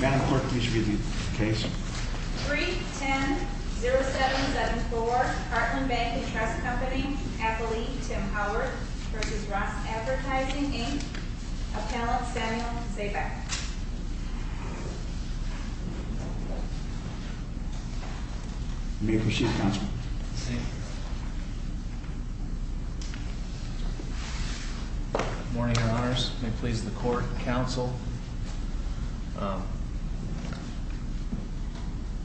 Madam Clerk, please read the case. 310-0774, Heartland Bank and Trust Company, affiliate Tim Howard versus Ross Advertising, Inc., appellant Samuel Zaback. May it proceed, counsel. Thank you. Morning, your honors. May it please the court, counsel.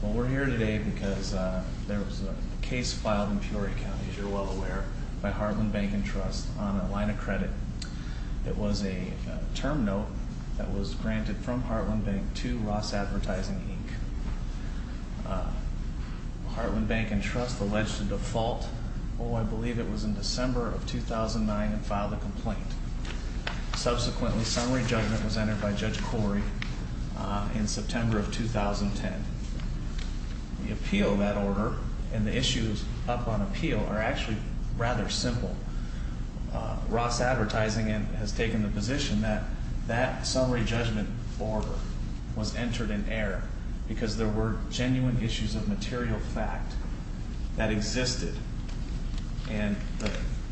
Well, we're here today because there was a case filed in Peoria County, as you're well aware, by Heartland Bank and Trust on a line of credit. It was a term note that was granted from Heartland Bank to Ross Advertising, Inc. Heartland Bank and Trust alleged a default, oh, I believe it was in December of 2009, and filed a complaint. Subsequently, summary judgment was entered by Judge Corey in September of 2010. The appeal of that order and the issues up on appeal are actually rather simple. Ross Advertising has taken the position that that summary judgment order was entered in error because there were genuine issues of material fact that existed. And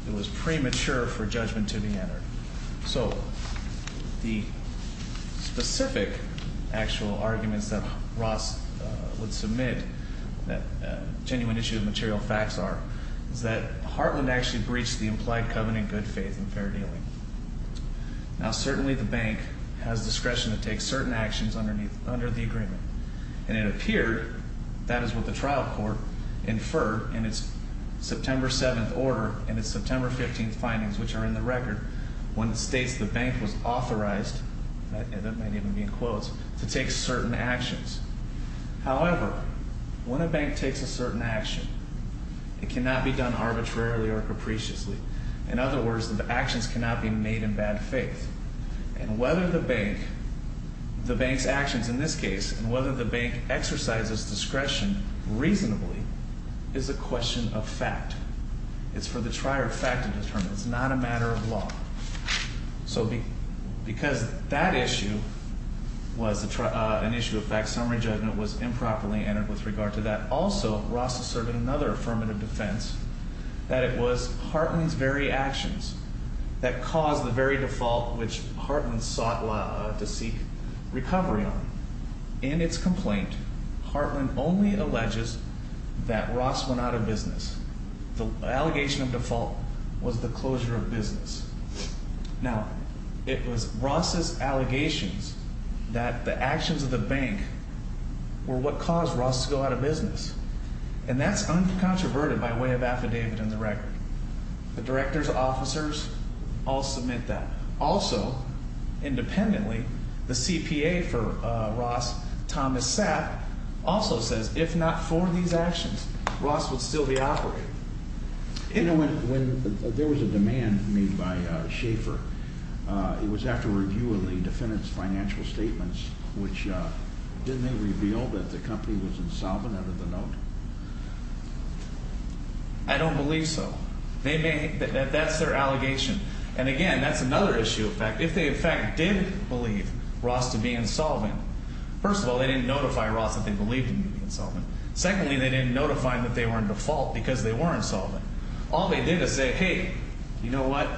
it was premature for judgment to be entered. So the specific actual arguments that Ross would submit, that genuine issue of material facts are, is that Heartland actually breached the implied covenant of good faith and fair dealing. Now, certainly the bank has discretion to take certain actions under the agreement. And it appeared, that is what the trial court inferred in its September 7th order and its September 15th findings, which are in the record, when it states the bank was authorized, that might even be in quotes, to take certain actions. However, when a bank takes a certain action, it cannot be done arbitrarily or it cannot be made in bad faith. And whether the bank, the bank's actions in this case, and whether the bank exercises discretion reasonably is a question of fact. It's for the trier of fact to determine. It's not a matter of law. So because that issue was an issue of fact, summary judgment was improperly entered with regard to that. Also, Ross asserted another affirmative defense, that it was Heartland's very actions that caused the very default which Heartland sought to seek recovery on. In its complaint, Heartland only alleges that Ross went out of business. The allegation of default was the closure of business. Now, it was Ross's allegations that the actions of the bank were what caused Ross to go out of business. And that's uncontroverted by way of affidavit in the record. The directors, officers, all submit that. Also, independently, the CPA for Ross, Thomas Sapp, also says, if not for these actions, Ross would still be operating. You know, when there was a demand made by Schaefer, it was after a review of the defendant's financial statements, which didn't they reveal that the company was insolvent out of the note? I don't believe so. They may, that's their allegation. And again, that's another issue of fact. If they in fact did believe Ross to be insolvent, first of all, they didn't notify Ross that they believed him to be insolvent. Secondly, they didn't notify him that they were in default because they were insolvent. All they did is say, hey, you know what?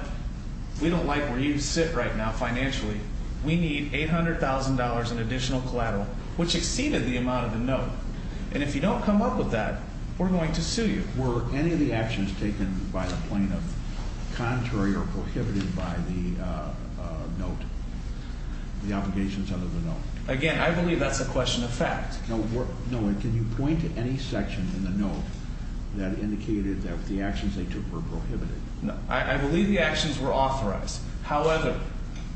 We don't like where you sit right now financially. We need $800,000 in additional collateral, which exceeded the amount of the note. And if you don't come up with that, we're going to sue you. Were any of the actions taken by the plaintiff contrary or prohibited by the note, the obligations under the note? Again, I believe that's a question of fact. No, and can you point to any section in the note that indicated that the actions they took were prohibited? I believe the actions were authorized. However,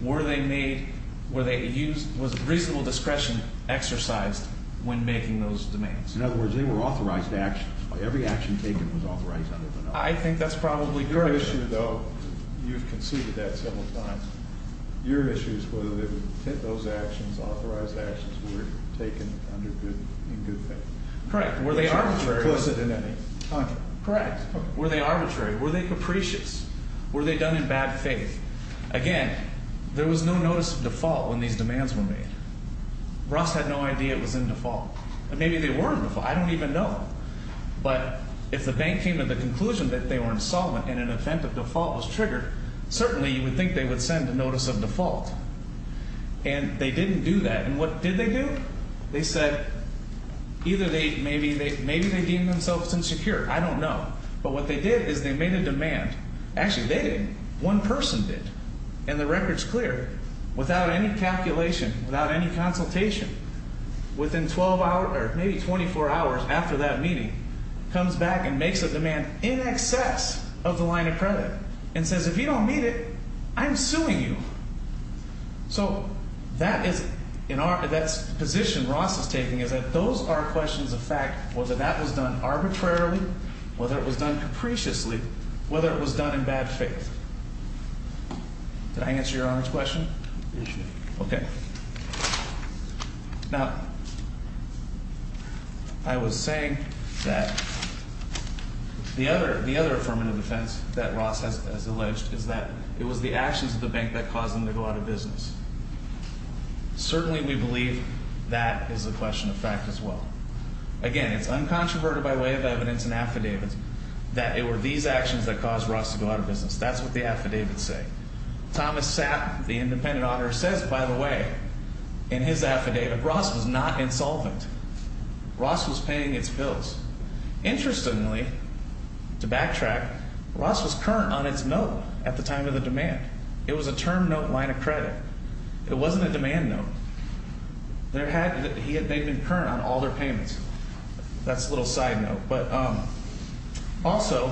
were they made, were they used, was reasonable discretion exercised when making those demands? In other words, they were authorized actions. Every action taken was authorized under the note. I think that's probably correct. Your issue, though, you've conceded that several times. Your issue is whether those actions, authorized actions, were taken under good, in good faith. Correct. Were they arbitrary? Closer than any. Correct. Were they arbitrary? Were they capricious? Were they done in bad faith? Again, there was no notice of default when these demands were made. Ross had no idea it was in default. And maybe they were in default, I don't even know. But if the bank came to the conclusion that they were insolvent and an event of default was triggered, certainly you would think they would send a notice of default. And they didn't do that. And what did they do? They said, either they, maybe they deemed themselves insecure, I don't know. But what they did is they made a demand. Actually, they didn't. One person did. And the record's clear. Without any calculation, without any consultation, within 12 hours, or maybe 24 hours after that meeting, comes back and makes a demand in excess of the line of credit. And says, if you don't meet it, I'm suing you. So that is, in our, that's the position Ross is taking, is that those are questions of fact. Whether that was done arbitrarily, whether it was done capriciously, whether it was done in bad faith. Did I answer your Honor's question? Okay. Now, I was saying that the other, the other affirmative defense that Ross has alleged is that it was the actions of the bank that caused them to go out of business. Certainly we believe that is a question of fact as well. Again, it's uncontroverted by way of evidence and affidavits that it were these actions that caused Ross to go out of business. That's what the affidavits say. Thomas Sapp, the independent auditor, says, by the way, in his affidavit, Ross was not insolvent. Ross was paying its bills. Interestingly, to backtrack, Ross was current on its note at the time of the demand. It was a term note line of credit. It wasn't a demand note. He had made them current on all their payments. That's a little side note. But also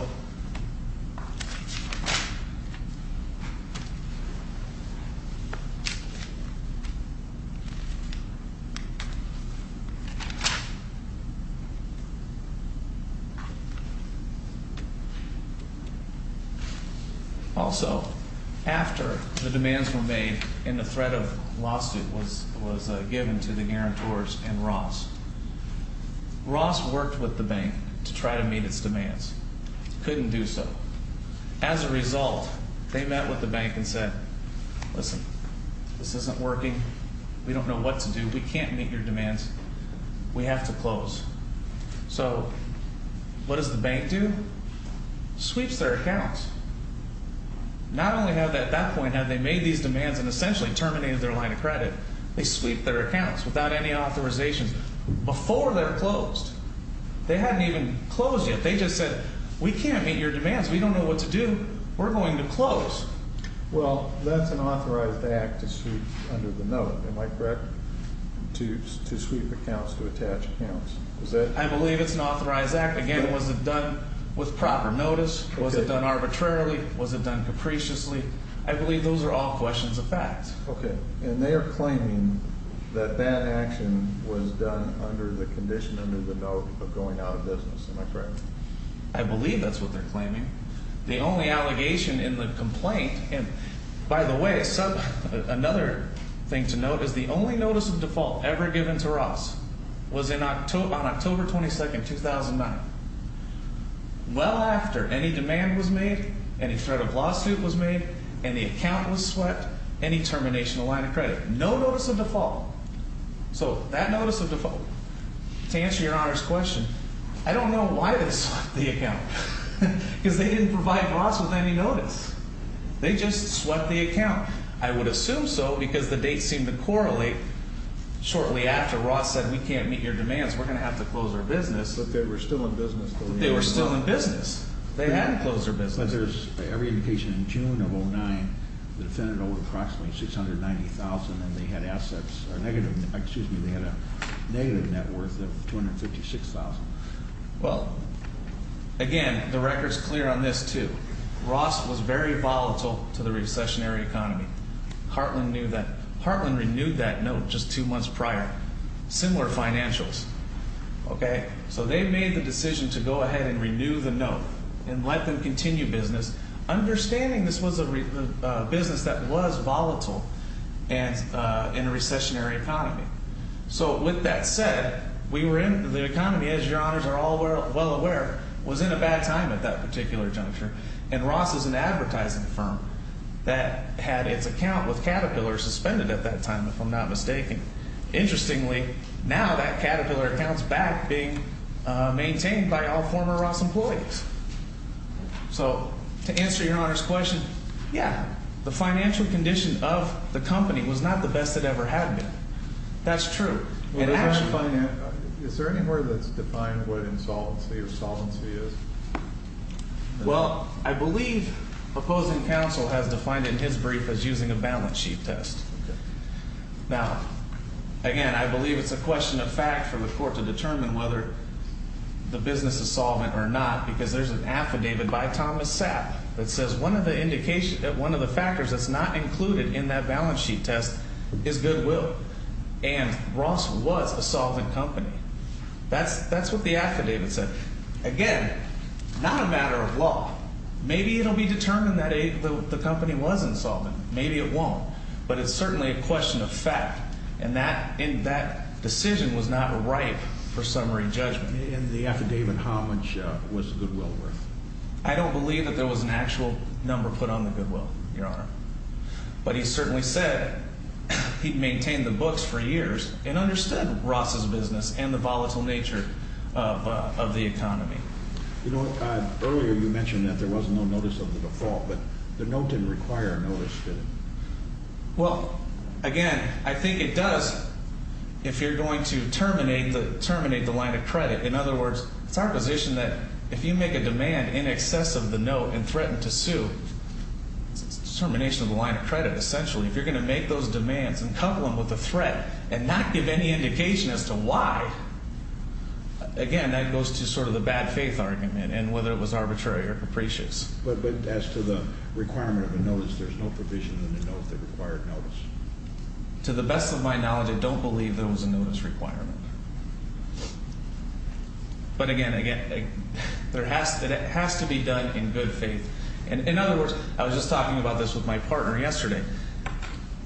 Also, after the demands were made and the threat of lawsuit was given to the guarantors and Ross, Ross worked with the bank to try to meet its demands. he would be charged with fraud and couldn't do so. As a result, they met with the bank and said, listen, this isn't working. We don't know what to do. We can't meet your demands. We have to close. So, what does the bank do? Sweeps their accounts. Not only have they, at that point, have they made these demands and essentially terminated their line of credit, they sweep their accounts without any authorization before they're closed. They hadn't even closed yet. They just said, we can't meet your demands. We don't know what to do. We're going to close. Well, that's an authorized act to sweep under the note, am I correct, to sweep accounts, to attach accounts? I believe it's an authorized act. Again, was it done with proper notice? Was it done arbitrarily? Was it done capriciously? I believe those are all questions of facts. Okay. And they are claiming that that action was done under the condition under the note of going out of business, am I correct? I believe that's what they're claiming. The only allegation in the complaint, and by the way, another thing to note is the only notice of default ever given to Ross was on October 22nd, 2009. Well after any demand was made, any threat of lawsuit was made, any account was swept, any termination of line of credit. No notice of default. So that notice of default, to answer your Honor's question, I don't know why they swept the account, because they didn't provide Ross with any notice. They just swept the account. I would assume so, because the dates seemed to correlate shortly after Ross said, we can't meet your demands, we're going to have to close our business. But they were still in business. They were still in business. They hadn't closed their business. It looks like there's every indication in June of 09, the defendant owed approximately 690,000 and they had assets, or negative, excuse me, they had a negative net worth of 256,000. Well, again, the record's clear on this too. Ross was very volatile to the recessionary economy. Heartland knew that. Heartland renewed that note just two months prior. Similar financials, okay? So they made the decision to go ahead and renew the note and let them continue business, understanding this was a business that was volatile in a recessionary economy. So with that said, the economy, as your Honors are all well aware, was in a bad time at that particular juncture. And Ross is an advertising firm that had its account with Caterpillar suspended at that time, if I'm not mistaking. Interestingly, now that Caterpillar account's back being maintained by all former Ross employees. So, to answer your Honor's question, yeah, the financial condition of the company was not the best it ever had been. That's true. And actually- Is there any word that's defined what insolvency or solvency is? Well, I believe opposing counsel has defined it in his brief as using a balance sheet test. Okay. Now, again, I believe it's a question of fact for the court to determine whether the business is solvent or not. Because there's an affidavit by Thomas Sapp that says one of the factors that's not included in that balance sheet test is goodwill. And Ross was a solvent company. That's what the affidavit said. Again, not a matter of law. Maybe it'll be determined that the company was insolvent. Maybe it won't. But it's certainly a question of fact. And that decision was not ripe for summary judgment. In the affidavit, how much was the goodwill worth? I don't believe that there was an actual number put on the goodwill, your Honor. But he certainly said he'd maintained the books for years and understood Ross's business and the volatile nature of the economy. You know, earlier you mentioned that there was no notice of the default. But the note didn't require a notice, did it? Well, again, I think it does if you're going to terminate the line of credit. In other words, it's our position that if you make a demand in excess of the note and threaten to sue, it's a termination of the line of credit, essentially. If you're going to make those demands and couple them with a threat and not give any indication as to why, again, that goes to sort of the bad faith argument and whether it was arbitrary or capricious. But as to the requirement of a notice, there's no provision in the note that required notice. To the best of my knowledge, I don't believe there was a notice requirement. But again, it has to be done in good faith. And in other words, I was just talking about this with my partner yesterday.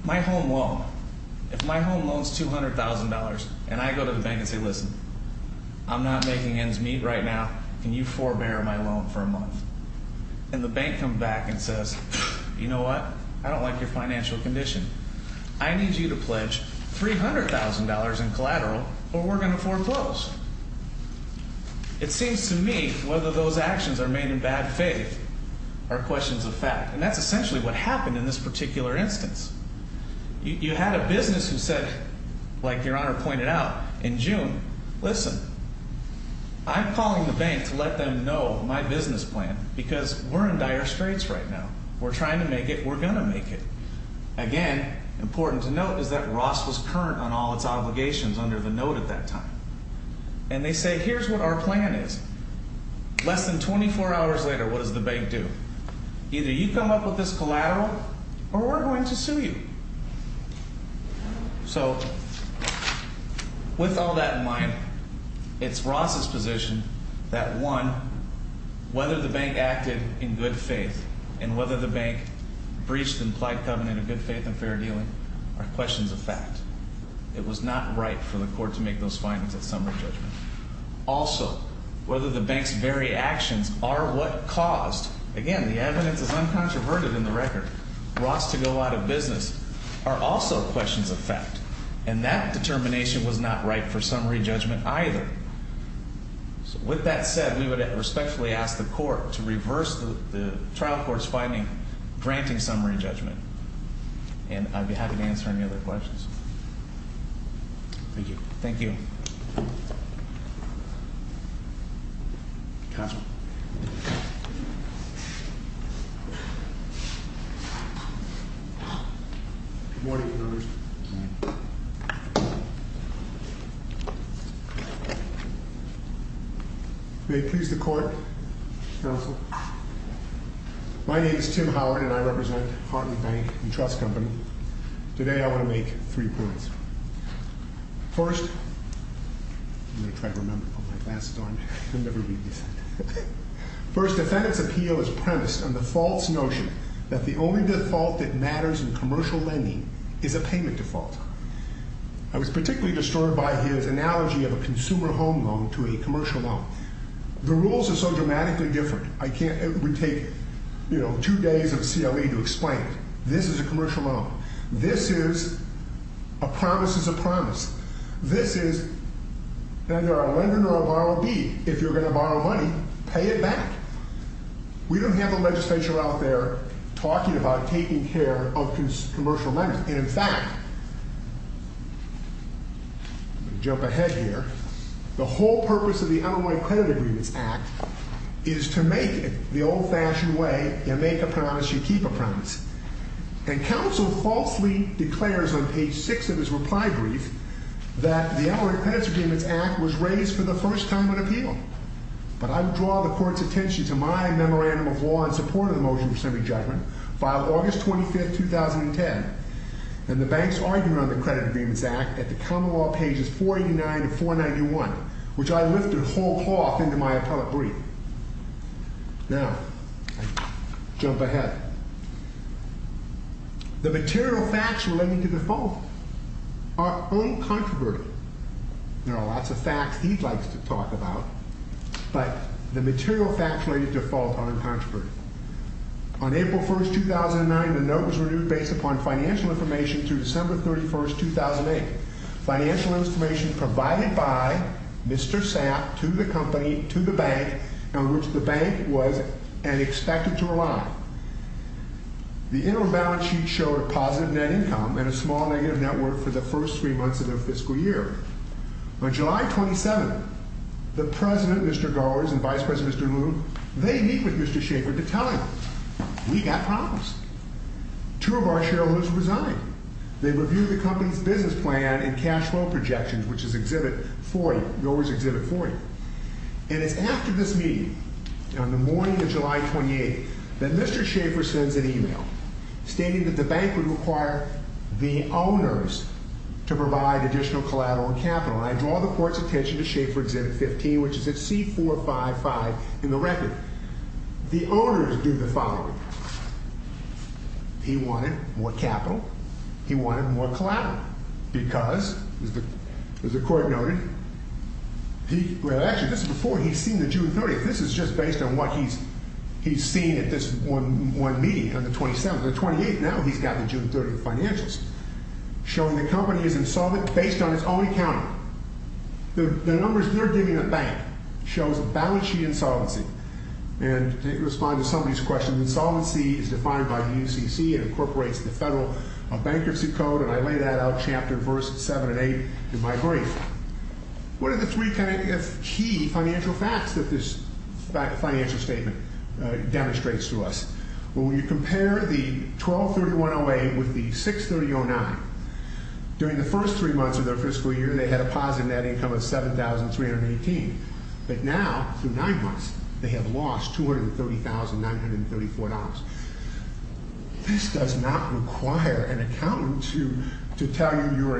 My home loan, if my home loan's $200,000 and I go to the bank and say, listen, I'm not making ends meet right now, can you forbear my loan for a month? And the bank comes back and says, you know what, I don't like your financial condition. I need you to pledge $300,000 in collateral or we're going to foreclose. It seems to me whether those actions are made in bad faith are questions of fact. And that's essentially what happened in this particular instance. You had a business who said, like Your Honor pointed out in June, listen, I'm calling the bank to let them know my business plan because we're in dire straits right now. We're trying to make it, we're going to make it. Again, important to note is that Ross was current on all its obligations under the note at that time. And they say, here's what our plan is. Less than 24 hours later, what does the bank do? Either you come up with this collateral or we're going to sue you. So with all that in mind, it's Ross's position that one, whether the bank acted in good faith and whether the bank breached the implied covenant of good faith and fair dealing are questions of fact. It was not right for the court to make those findings at summary judgment. Also, whether the bank's very actions are what caused, again, the evidence is uncontroverted in the record, Ross to go out of business, are also questions of fact. And that determination was not right for summary judgment either. So with that said, we would respectfully ask the court to reverse the trial court's finding, granting summary judgment. And I'd be happy to answer any other questions. Thank you. Thank you. Counsel. Good morning, Your Honor. Good morning. May it please the court, counsel. My name is Tim Howard and I represent Hartley Bank and Trust Company. Today I want to make three points. First, I'm going to try to remember to put my glasses on. I'll never read this. First, defendant's appeal is premised on the false notion that the only default that matters in commercial lending is a payment default. I was particularly disturbed by his analogy of a consumer home loan to a commercial loan. The rules are so dramatically different. I can't, it would take two days of CLE to explain it. This is a commercial loan. This is a promise is a promise. This is either a lender nor a borrower be. If you're going to borrow money, pay it back. We don't have a legislature out there talking about taking care of commercial lending. And in fact, I'm going to jump ahead here. The whole purpose of the Illinois Credit Agreements Act is to make it the old fashioned way, you make a promise, you keep a promise. And counsel falsely declares on page six of his reply brief that the Illinois Credit Agreements Act was raised for the first time on appeal. But I would draw the court's attention to my memorandum of law in support of the motion for assembly judgment filed August 25th, 2010. And the bank's argument on the Credit Agreements Act at the common law pages 489 to 491, which I lifted whole cloth into my appellate brief. Now, jump ahead. The material facts relating to default are uncontroverted. There are lots of facts he likes to talk about, but the material facts related to default are uncontroverted. On April 1st, 2009, the note was renewed based upon financial information through December 31st, 2008. Financial information provided by Mr. Sapp to the company, to the bank, on which the bank was and expected to rely. The interim balance sheet showed a positive net income and a small negative net worth for the first three months of their fiscal year. On July 27th, the President, Mr. Gowers, and Vice President, Mr. Moon, they meet with Mr. Shaffer to tell him, we got problems. Two of our shareholders resigned. They reviewed the company's business plan and cash flow projections, which is Exhibit 40, Gowers' Exhibit 40. And it's after this meeting, on the morning of July 28th, that Mr. Shaffer sends an email stating that the bank would require the owners to provide additional collateral and capital. And I draw the court's attention to Shaffer Exhibit 15, which is at C455 in the record. The owners do the following. He wanted more capital. He wanted more collateral because, as the court noted, he, well actually, this is before he's seen the June 30th. This is just based on what he's seen at this one meeting on the 27th. On the 28th, now he's got the June 30th financials, showing the company is insolvent based on its own account. The numbers they're giving the bank shows balance sheet insolvency. And to respond to some of these questions, insolvency is defined by the UCC and incorporates the Federal Bankruptcy Code. And I lay that out, chapter verse seven and eight, in my brief. What are the three kind of key financial facts that this financial statement demonstrates to us? Well, when you compare the 1231-08 with the 630-09, during the first three months of their fiscal year, they had a positive net income of 7,318. But now, through nine months, they have lost $230,934. This does not require an accountant to tell you you're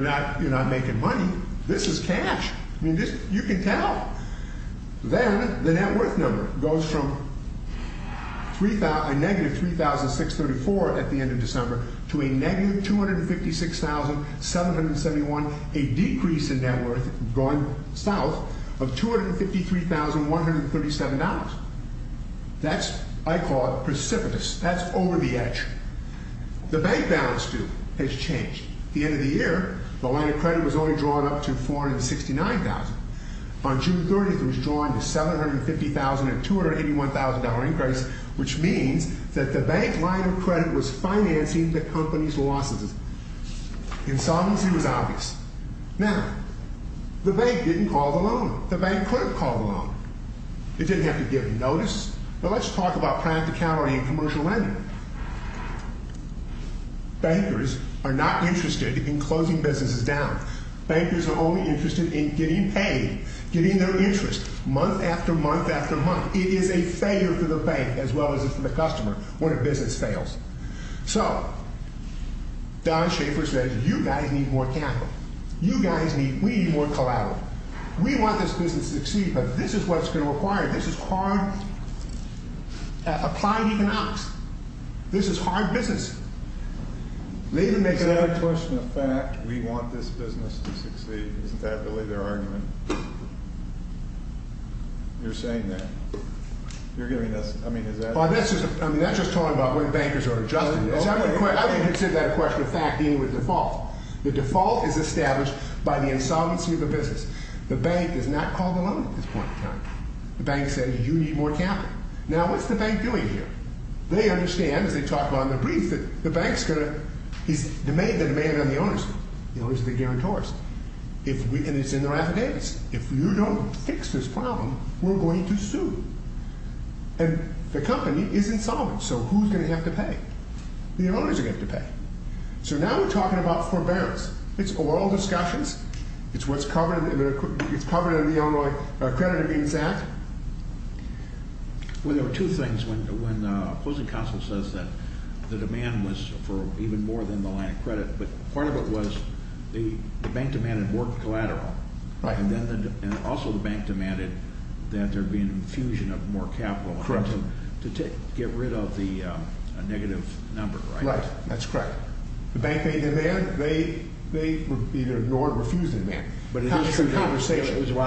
not making money. This is cash. I mean, you can tell. Then, the net worth number goes from a negative 3,634 at the end of December to a negative $256,771, a decrease in net worth going south of $253,137. That's, I call it precipitous. That's over the edge. The bank balance sheet has changed. At the end of the year, the line of credit was only drawn up to $469,000. On June 30th, it was drawn to $750,000 and $281,000 increase, which means that the bank line of credit was financing the company's losses. Insolvency was obvious. Now, the bank didn't call the loan. The bank could have called the loan. It didn't have to give notice. Now, let's talk about practicality and commercial lending. Bankers are not interested in closing businesses down. Bankers are only interested in getting paid, getting their interest month after month after month. It is a failure for the bank as well as it's for the customer when a business fails. So, Don Schaefer says, you guys need more capital. You guys need, we need more collateral. We want this business to succeed, but this is what's going to require. This is hard. Applied economics. This is hard business. They've been making- It's not a question of fact. We want this business to succeed. Isn't that really their argument? You're saying that. You're giving us, I mean, is that- Well, this is, I mean, that's just talking about when bankers are adjusting this. I wouldn't consider that a question of fact being with default. The default is established by the insolvency of the business. The bank does not call the loan at this point in time. The bank said, you need more capital. Now, what's the bank doing here? They understand, as they talk about in the brief, that the bank's going to, he's demanded the demand on the ownership. You know, he's the guarantorist. If we, and it's in their affidavits. If you don't fix this problem, we're going to sue. And the company is insolvent. So, who's going to have to pay? The owners are going to have to pay. So, now we're talking about forbearance. It's oral discussions. It's what's covered in the Illinois Credit Agreements Act. Well, there were two things. When opposing counsel says that the demand was for even more than the line of credit, but part of it was the bank demanded more collateral. Right. And also the bank demanded that there be an infusion of more capital. Correct. To get rid of the negative number. Right, that's correct. The bank made a demand. They either ignored or refused the demand. But it was about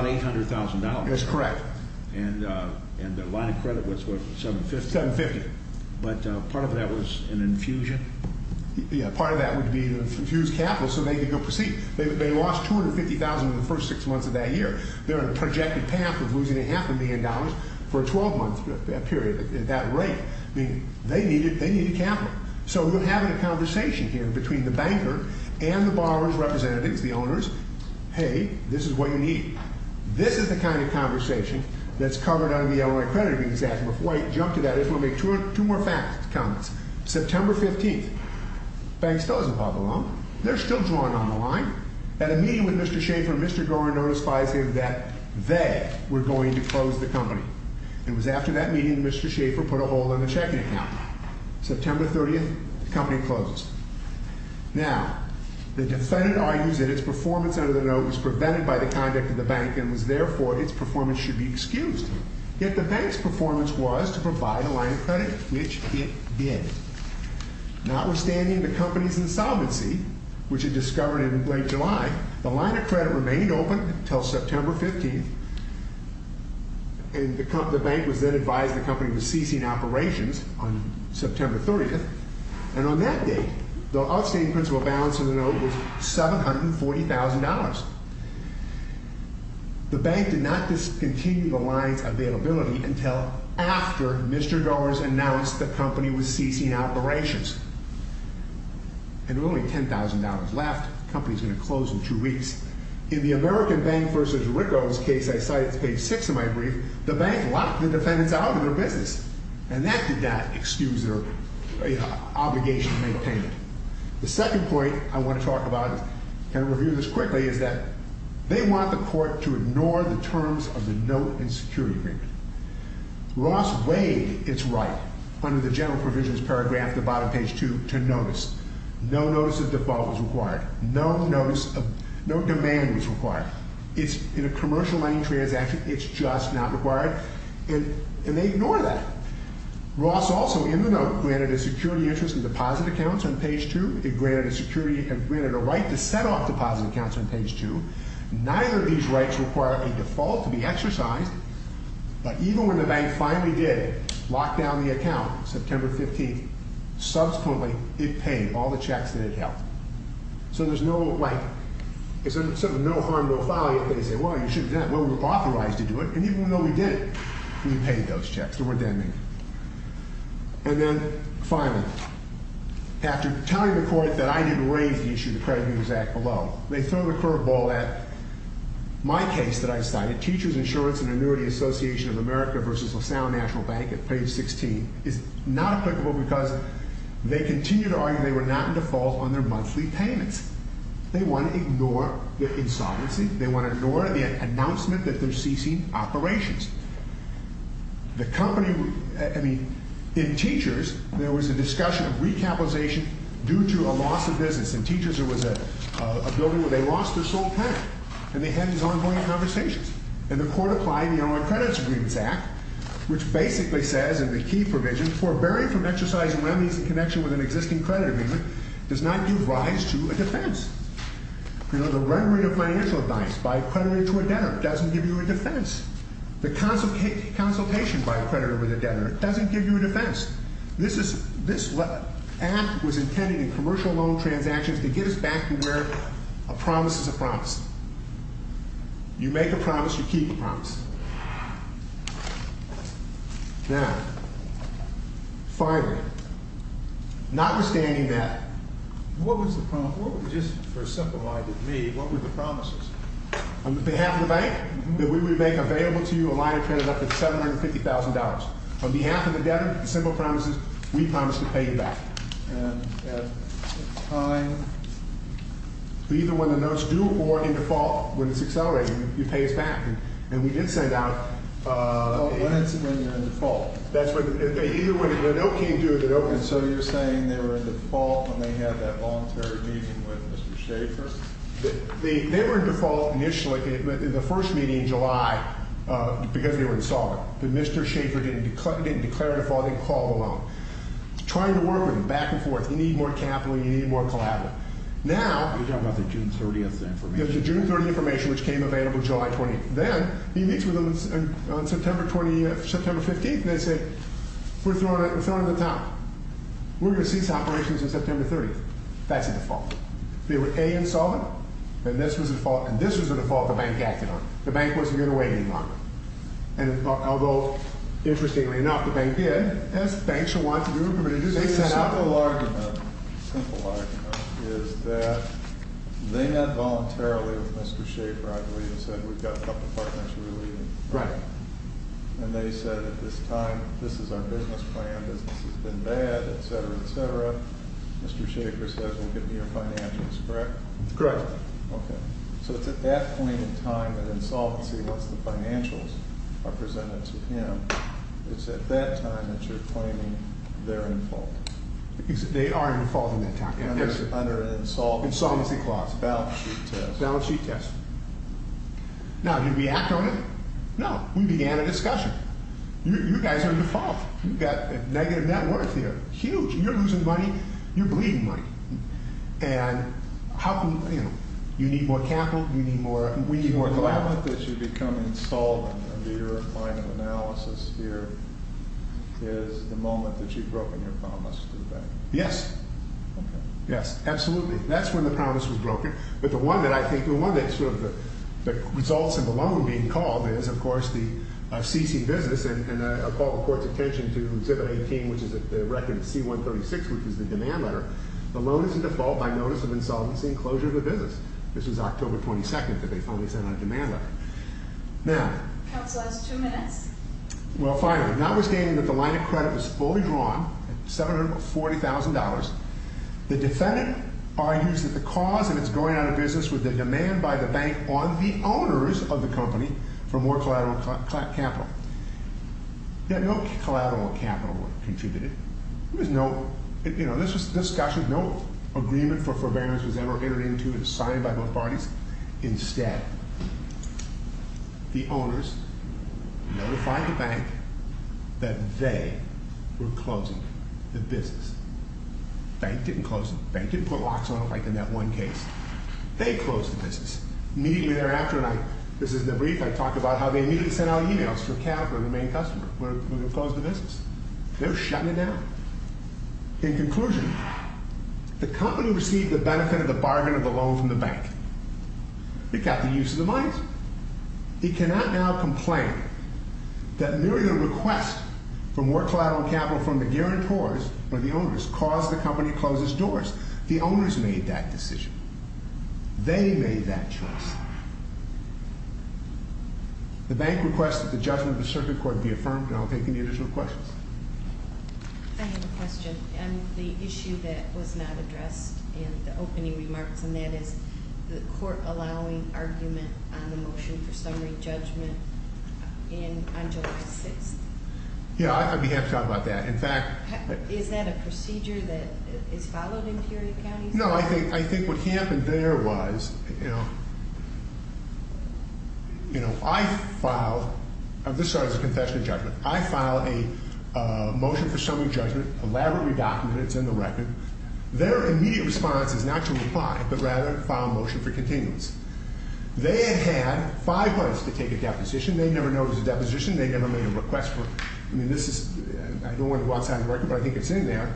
$800,000. That's correct. And the line of credit was $750,000. $750,000. But part of that was an infusion. Yeah, part of that would be to infuse capital so they could go proceed. They lost $250,000 in the first six months of that year. They're on a projected path of losing a half a million dollars for a 12-month period at that rate. They needed capital. So, we're having a conversation here between the banker and the borrower's representatives, the owners. Hey, this is what you need. This is the kind of conversation that's covered under the Illinois Credit Agreements Act. Before I jump to that, I just want to make two more comments. September 15th. Bank still doesn't pop along. They're still drawing on the line. At a meeting with Mr. Schaefer, Mr. Gorin notifies him that they were going to close the company. It was after that meeting that Mr. Schaefer put a hole in the checking account. September 30th, the company closes. Now, the defendant argues that its performance under the note was prevented by the conduct of the bank and was, therefore, its performance should be excused. Yet the bank's performance was to provide a line of credit, which it did. Notwithstanding the company's insolvency, which it discovered in late July, the line of credit remained open until September 15th. And the bank was then advised the company was ceasing operations on September 30th. And on that date, the outstanding principal balance of the note was $740,000. The bank did not discontinue the line's availability until after Mr. Gorin announced the company was ceasing operations. And with only $10,000 left, the company's going to close in two weeks. In the American Bank v. Ricko's case I cite, it's page six of my brief, the bank locked the defendants out of their business. And that did not excuse their obligation to make payment. The second point I want to talk about and review this quickly is that they want the court to ignore the terms of the note and security agreement. Ross weighed its right under the general provisions paragraph at the bottom, page two, to notice. No notice of default was required. No notice of, no demand was required. It's in a commercial money transaction. It's just not required. And they ignore that. Ross also, in the note, granted a security interest and deposit accounts on page two. It granted a security and granted a right to set off deposit accounts on page two. Neither of these rights require a default to be exercised. But even when the bank finally did lock down the account, September 15th, subsequently, it paid all the checks that it held. So there's no, like, it's sort of no harm, no foul. You can say, well, you should have done that. Well, we're authorized to do it. And even though we did it, we paid those checks. They weren't that many. And then finally, after telling the court that I didn't raise the issue of the credit for all that, my case that I decided, Teachers Insurance and Annuity Association of America versus LaSalle National Bank at page 16, is not applicable because they continue to argue they were not in default on their monthly payments. They want to ignore the insolvency. They want to ignore the announcement that they're ceasing operations. The company, I mean, in Teachers, there was a discussion of recapitalization due to a loss of business. In Teachers, there was a building where they lost their sole creditor. And they had these ongoing conversations. And the court applied the Online Credits Agreements Act, which basically says in the key provision, forbearing from exercising remedies in connection with an existing credit agreement does not give rise to a defense. You know, the remuneration of financial advice by a creditor to a debtor doesn't give you a defense. The consultation by a creditor with a debtor doesn't give you a defense. This is, this act was intended in commercial loan transactions to get us back to where a promise is a promise. You make a promise, you keep the promise. Now, finally, notwithstanding that, what was the promise, just for a simple mind of me, what were the promises? On behalf of the bank, that we would make available to you a line of credit up to $750,000. On behalf of the debtor, the simple promise is, we promise to pay you back. And at the time, either when the notes due or in default, when it's accelerating, you pay us back. And we did send out- Oh, when it's when you're in default. That's when, either when the note came due, the note- And so you're saying they were in default when they had that voluntary meeting with Mr. Schaefer? They were in default initially, in the first meeting in July, because they were insolvent. But Mr. Schaefer didn't declare default, he called the loan. Trying to work with them back and forth. You need more capital, you need more collateral. Now- You're talking about the June 30th information? Yeah, the June 30th information, which came available July 20th. Then, he meets with them on September 20th, September 15th, and they say, we're throwing the top. We're going to cease operations on September 30th. That's a default. They were A, insolvent, and this was a default. And this was a default the bank acted on. The bank wasn't going to wait any longer. And although, interestingly enough, the bank did, as banks should want to do. But it is- They set up a large amount, a simple argument, is that they met voluntarily with Mr. Schaefer, I believe, and said, we've got a couple of partners we're leaving. Right. And they said, at this time, this is our business plan, business has been bad, etc., etc. Mr. Schaefer says, we'll give you your financials, correct? Correct. Okay. So, it's at that point in time that insolvency, once the financials are presented to him, it's at that time that you're claiming they're in fault. They are in fault in that time. Yes. Under an insolvency clause, balance sheet test. Balance sheet test. Now, did we act on it? No. We began a discussion. You guys are in default. You've got negative net worth here, huge. You're losing money. You're bleeding money. And how can, you know, you need more capital, you need more, we need more collateral. The moment that you become insolvent, under your line of analysis here, is the moment that you've broken your promise to the bank. Yes. Yes, absolutely. That's when the promise was broken. But the one that I think, the one that's sort of the results of the loan being called is, of course, the CC business, and I call the court's attention to 718, which is the record C-136, which is the denominator. The loan is in default by notice of insolvency and closure of the business. This was October 22nd that they finally sent out a demand letter. Now. Counsel has two minutes. Well, finally, notwithstanding that the line of credit was fully drawn at $740,000, the defendant argues that the cause of its going out of business was the demand by the bank on the owners of the company for more collateral capital. Yeah, no collateral capital contributed. There was no, you know, this was, no agreement for forbearance was ever entered into. It was signed by both parties. Instead, the owners notified the bank that they were closing the business. Bank didn't close it. Bank didn't put locks on it like in that one case. They closed the business. Immediately thereafter, and I, this is the brief, I talk about how they immediately sent out emails for Calgary, the main customer. We're going to close the business. They're shutting it down. In conclusion, the company received the benefit of the bargain of the loan from the bank. It got the use of the money. He cannot now complain that nearly a request for more collateral capital from the guarantors or the owners caused the company closes doors. The owners made that decision. They made that choice. The bank requested the judgment of the circuit court be affirmed. And I'll take any additional questions. I have a question on the issue that was not addressed in the opening remarks. And that is the court allowing argument on the motion for summary judgment in on July 6th. Yeah, I'd be happy to talk about that. In fact, is that a procedure that is followed in period counties? No, I think, I think what happened there was, you know, you know, I filed, this started as a confession of judgment. I filed a motion for summary judgment, elaborately documented. It's in the record. Their immediate response is not to reply, but rather file a motion for continuance. They had had five months to take a deposition. They never noticed a deposition. They never made a request for it. I mean, this is, I don't want to go outside the record, but I think it's in there.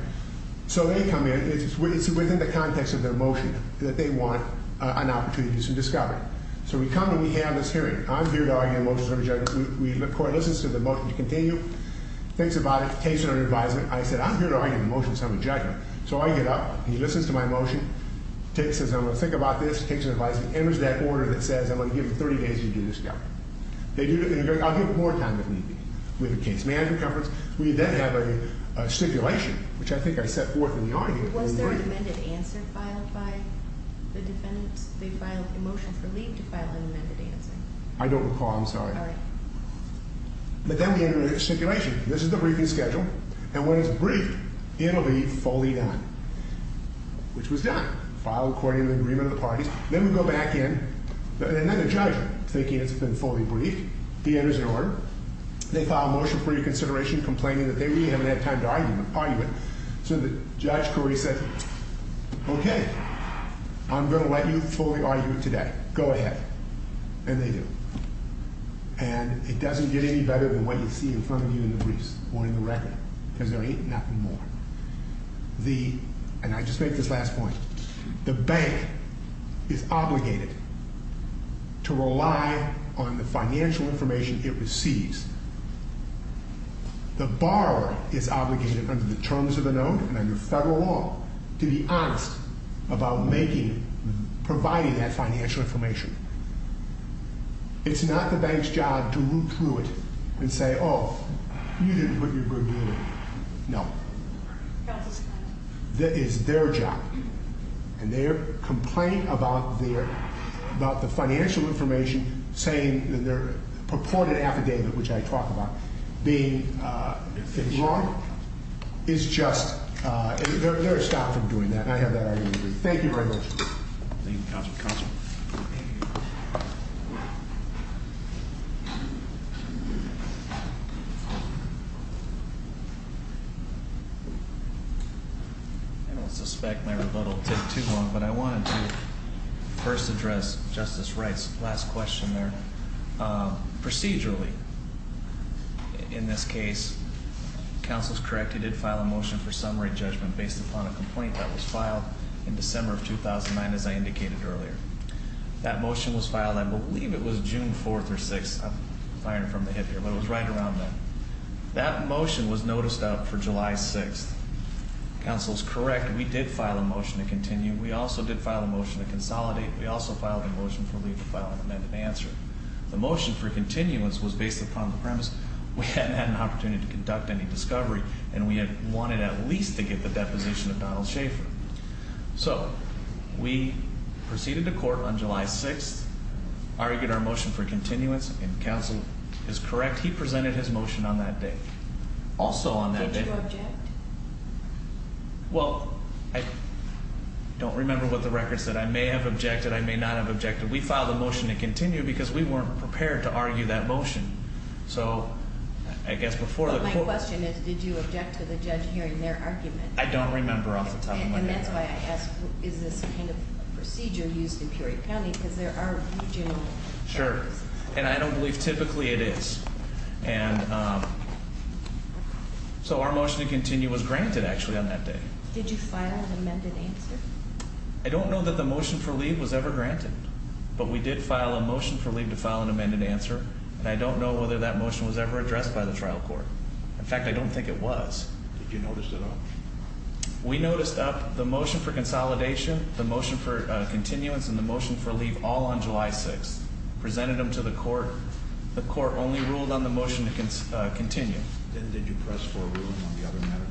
So they come in, it's within the context of their motion that they want an opportunity to do some discovery. So we come and we have this hearing. I'm here to argue a motion for summary judgment. Corey listens to the motion to continue. Thinks about it, takes it under advisement. I said, I'm here to argue a motion for summary judgment. So I get up, he listens to my motion, says I'm going to think about this. Takes it under advisement, enters that order that says I'm going to give them 30 days to do discovery. I'll give them more time if need be. We have a case management conference. We then have a stipulation, which I think I set forth in the argument. Was there an amended answer filed by the defendants? They filed a motion for leave to file an amended answer. I don't recall, I'm sorry. But then we enter a stipulation. This is the briefing schedule. And when it's briefed, it'll be fully done, which was done. Filed according to the agreement of the parties. Then we go back in, and then the judge, thinking it's been fully briefed, he enters an order. They file a motion for reconsideration, complaining that they really haven't had time to argue it. So Judge Corey says, okay, I'm going to let you fully argue it today. Go ahead. And they do. And it doesn't get any better than what you see in front of you in the briefs or in the record, because there ain't nothing more. The, and I just make this last point, the bank is obligated to rely on the financial information it receives. The borrower is obligated under the terms of the note and under federal law to be honest about making, providing that financial information. It's not the bank's job to look through it and say, oh, you didn't put your good deal in. No. That is their job. And their complaint about their, about the financial information saying that their purported affidavit, which I talk about being wrong, is just, they're stopped from doing that. And I have that argument with you. Thank you very much. Thank you, Counselor. Counselor. And I don't suspect my rebuttal will take too long, but I wanted to first address Justice Wright's last question there. Procedurally, in this case, Counsel's correct. He did file a motion for summary judgment based upon a complaint that was filed in December of 2009, as I indicated earlier. That motion was filed, I believe it was June 4th or 6th. I'm firing from the hip here, but it was right around then. That motion was noticed out for July 6th. Counsel's correct. We did file a motion to continue. We also did file a motion to consolidate. We also filed a motion for leave to file an amended answer. The motion for continuance was based upon the premise we hadn't had an opportunity to conduct any discovery and we had wanted at least to get the deposition of Donald Schaefer. So, we proceeded to court on July 6th, argued our motion for continuance, and Counsel is correct. He presented his motion on that day. Also on that day... Did you object? Well, I don't remember what the record said. I may have objected. I may not have objected. We filed a motion to continue because we weren't prepared to argue that motion. So, I guess before the court... But my question is, did you object to the judge hearing their argument? I don't remember off the top of my head. And that's why I ask, is this kind of procedure used in Peoria County? Because there are regional... Sure. And I don't believe typically it is. So, our motion to continue was granted, actually, on that day. Did you file an amended answer? I don't know that the motion for leave was ever granted, but we did file a motion for leave to file an amended answer and I don't know whether that motion was ever addressed by the trial court. In fact, I don't think it was. Did you notice at all? We noticed up the motion for consolidation, the motion for continuance, and the motion for leave all on July 6th. Presented them to the court. The court only ruled on the motion to continue. Then did you press forward on the other matters?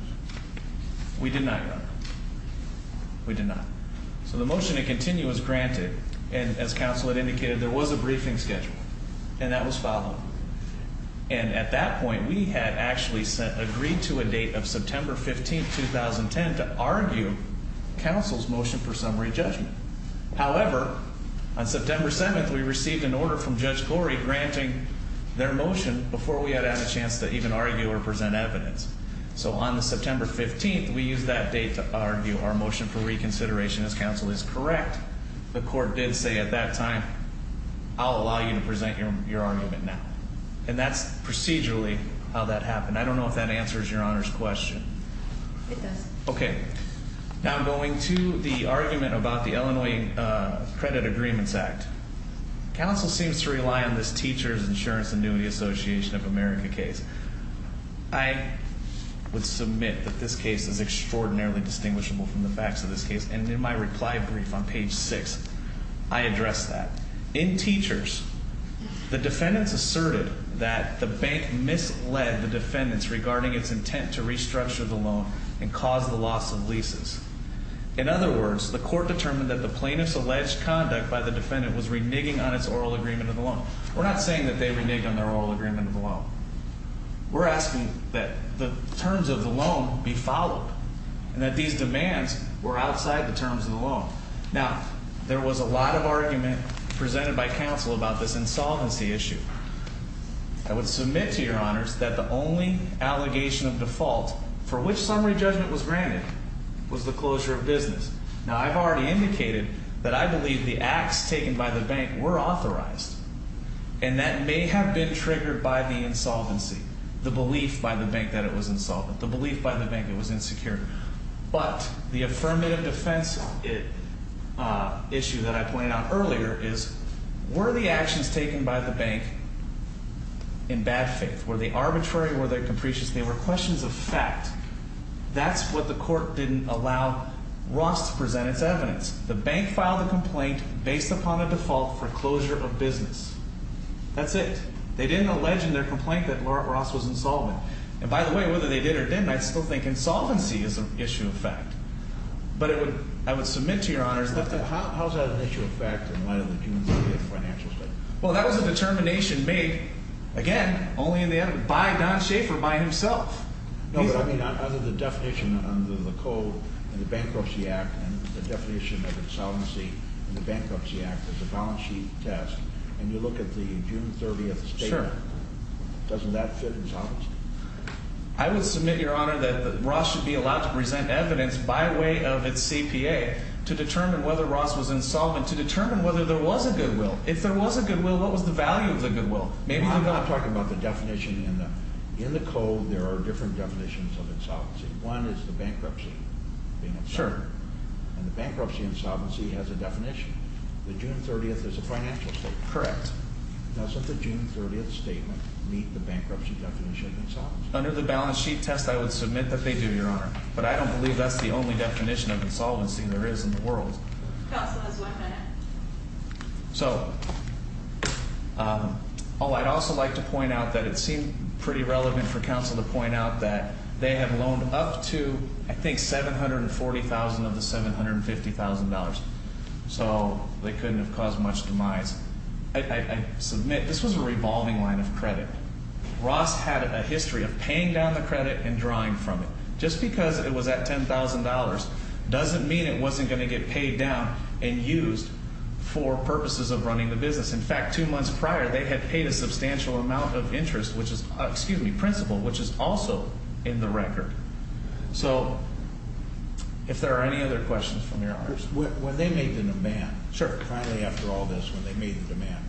We did not, Your Honor. We did not. So, the motion to continue was granted and, as counsel had indicated, there was a briefing schedule. And that was filed. And at that point, we had actually agreed to a date of September 15th, 2010, to argue counsel's motion for summary judgment. However, on September 7th, we received an order from Judge Glory granting their motion before we had had a chance to even argue or present evidence. So, on September 15th, we used that date to argue our motion for reconsideration. As counsel is correct, the court did say at that time, I'll allow you to present your argument now. And that's procedurally how that happened. I don't know if that answers Your Honor's question. It does. Okay. Now, going to the argument about the Illinois Credit Agreements Act. Counsel seems to rely on this Teachers Insurance Annuity Association of America case. I would submit that this case is extraordinarily distinguishable from the facts of this case. And in my reply brief on page 6, I addressed that. In Teachers, the defendants asserted that the bank misled the defendants regarding its intent to restructure the loan and cause the loss of leases. In other words, the court determined that the plaintiff's alleged conduct by the defendant was reneging on its oral agreement of the loan. We're not saying that they reneged on their oral agreement of the loan. We're asking that the terms of the loan be followed. And that these demands were outside the terms of the loan. Now, there was a lot of argument presented by counsel about this insolvency issue. I would submit to Your Honors that the only allegation of default for which summary judgment was granted was the closure of business. Now, I've already indicated that I believe the acts taken by the bank were authorized. And that may have been triggered by the insolvency. The belief by the bank that it was insolvent. The belief by the bank it was insecure. But the affirmative defense issue that I pointed out earlier is, were the actions taken by the bank in bad faith? Were they arbitrary? Were they capricious? They were questions of fact. That's what the court didn't allow Ross to present its evidence. The bank filed a complaint based upon a default for closure of business. That's it. They didn't allege in their complaint that Ross was insolvent. And by the way, whether they did or didn't, I still think insolvency is an issue of fact. But I would submit to Your Honors that- How is that an issue of fact in light of the June 30th financial statement? Well, that was a determination made, again, only in the end by Don Schafer by himself. No, but I mean, under the definition, under the code, and the Bankruptcy Act, and the definition of insolvency in the Bankruptcy Act is a balance sheet test. And you look at the June 30th statement, doesn't that fit insolvency? I would submit, Your Honor, that Ross should be allowed to present evidence by way of its CPA to determine whether Ross was insolvent, to determine whether there was a goodwill. If there was a goodwill, what was the value of the goodwill? Maybe the- I'm not talking about the definition. In the code, there are different definitions of insolvency. One is the bankruptcy being insolvent. Sure. And the bankruptcy insolvency has a definition. The June 30th is a financial statement. Correct. Does the June 30th statement meet the bankruptcy definition of insolvency? Under the balance sheet test, I would submit that they do, Your Honor. But I don't believe that's the only definition of insolvency there is in the world. Counsel has one minute. So, oh, I'd also like to point out that it seemed pretty relevant for counsel to point out that they have loaned up to, I think, $740,000 of the $750,000. So they couldn't have caused much demise. I submit this was a revolving line of credit. Ross had a history of paying down the credit and drawing from it. Just because it was at $10,000 doesn't mean it wasn't going to get paid down and used for purposes of running the business. In fact, two months prior, they had paid a substantial amount of interest, which is, excuse me, principal, which is also in the record. So if there are any other questions from Your Honor? When they made the demand- Sure. Finally, after all this, when they made the demand.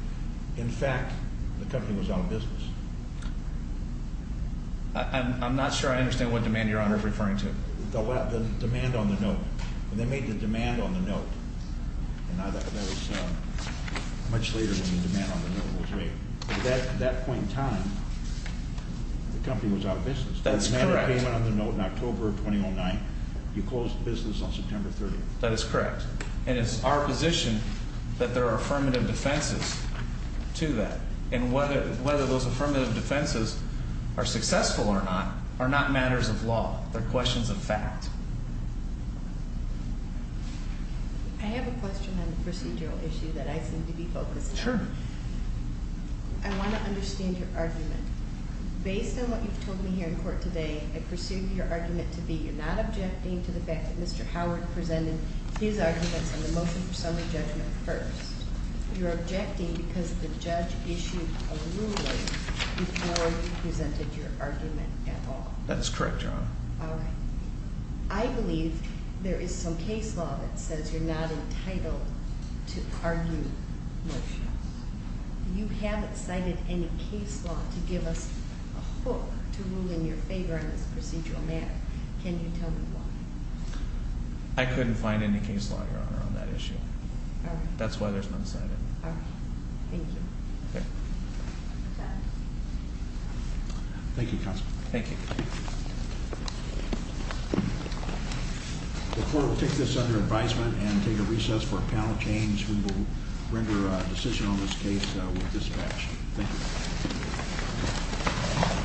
In fact, the company was out of business. I'm not sure I understand what demand Your Honor is referring to. The demand on the note. When they made the demand on the note, and that was much later than the demand on the note was made, but at that point in time, the company was out of business. That's correct. The demand payment on the note in October of 2009, you closed the business on September 30th. That is correct. And it's our position that there are affirmative defenses to that. And whether those affirmative defenses are successful or not, are not matters of law. They're questions of fact. I have a question on the procedural issue that I seem to be focused on. Sure. I want to understand your argument. Based on what you've told me here in court today, I perceive your argument to be you're not objecting to the fact that Mr. Howard presented his arguments on the motion for summary judgment first. You're objecting because the judge issued a ruling before he presented your argument at all. That is correct, Your Honor. All right. I believe there is some case law that says you're not entitled to argue motions. You haven't cited any case law to give us a hook to rule in your favor on this procedural matter. Can you tell me why? I couldn't find any case law, Your Honor, on that issue. That's why there's none cited. All right. Thank you. Thank you, Counselor. Thank you. The court will take this under advisement and take a recess for a panel change. We will render a decision on this case with dispatch. Thank you.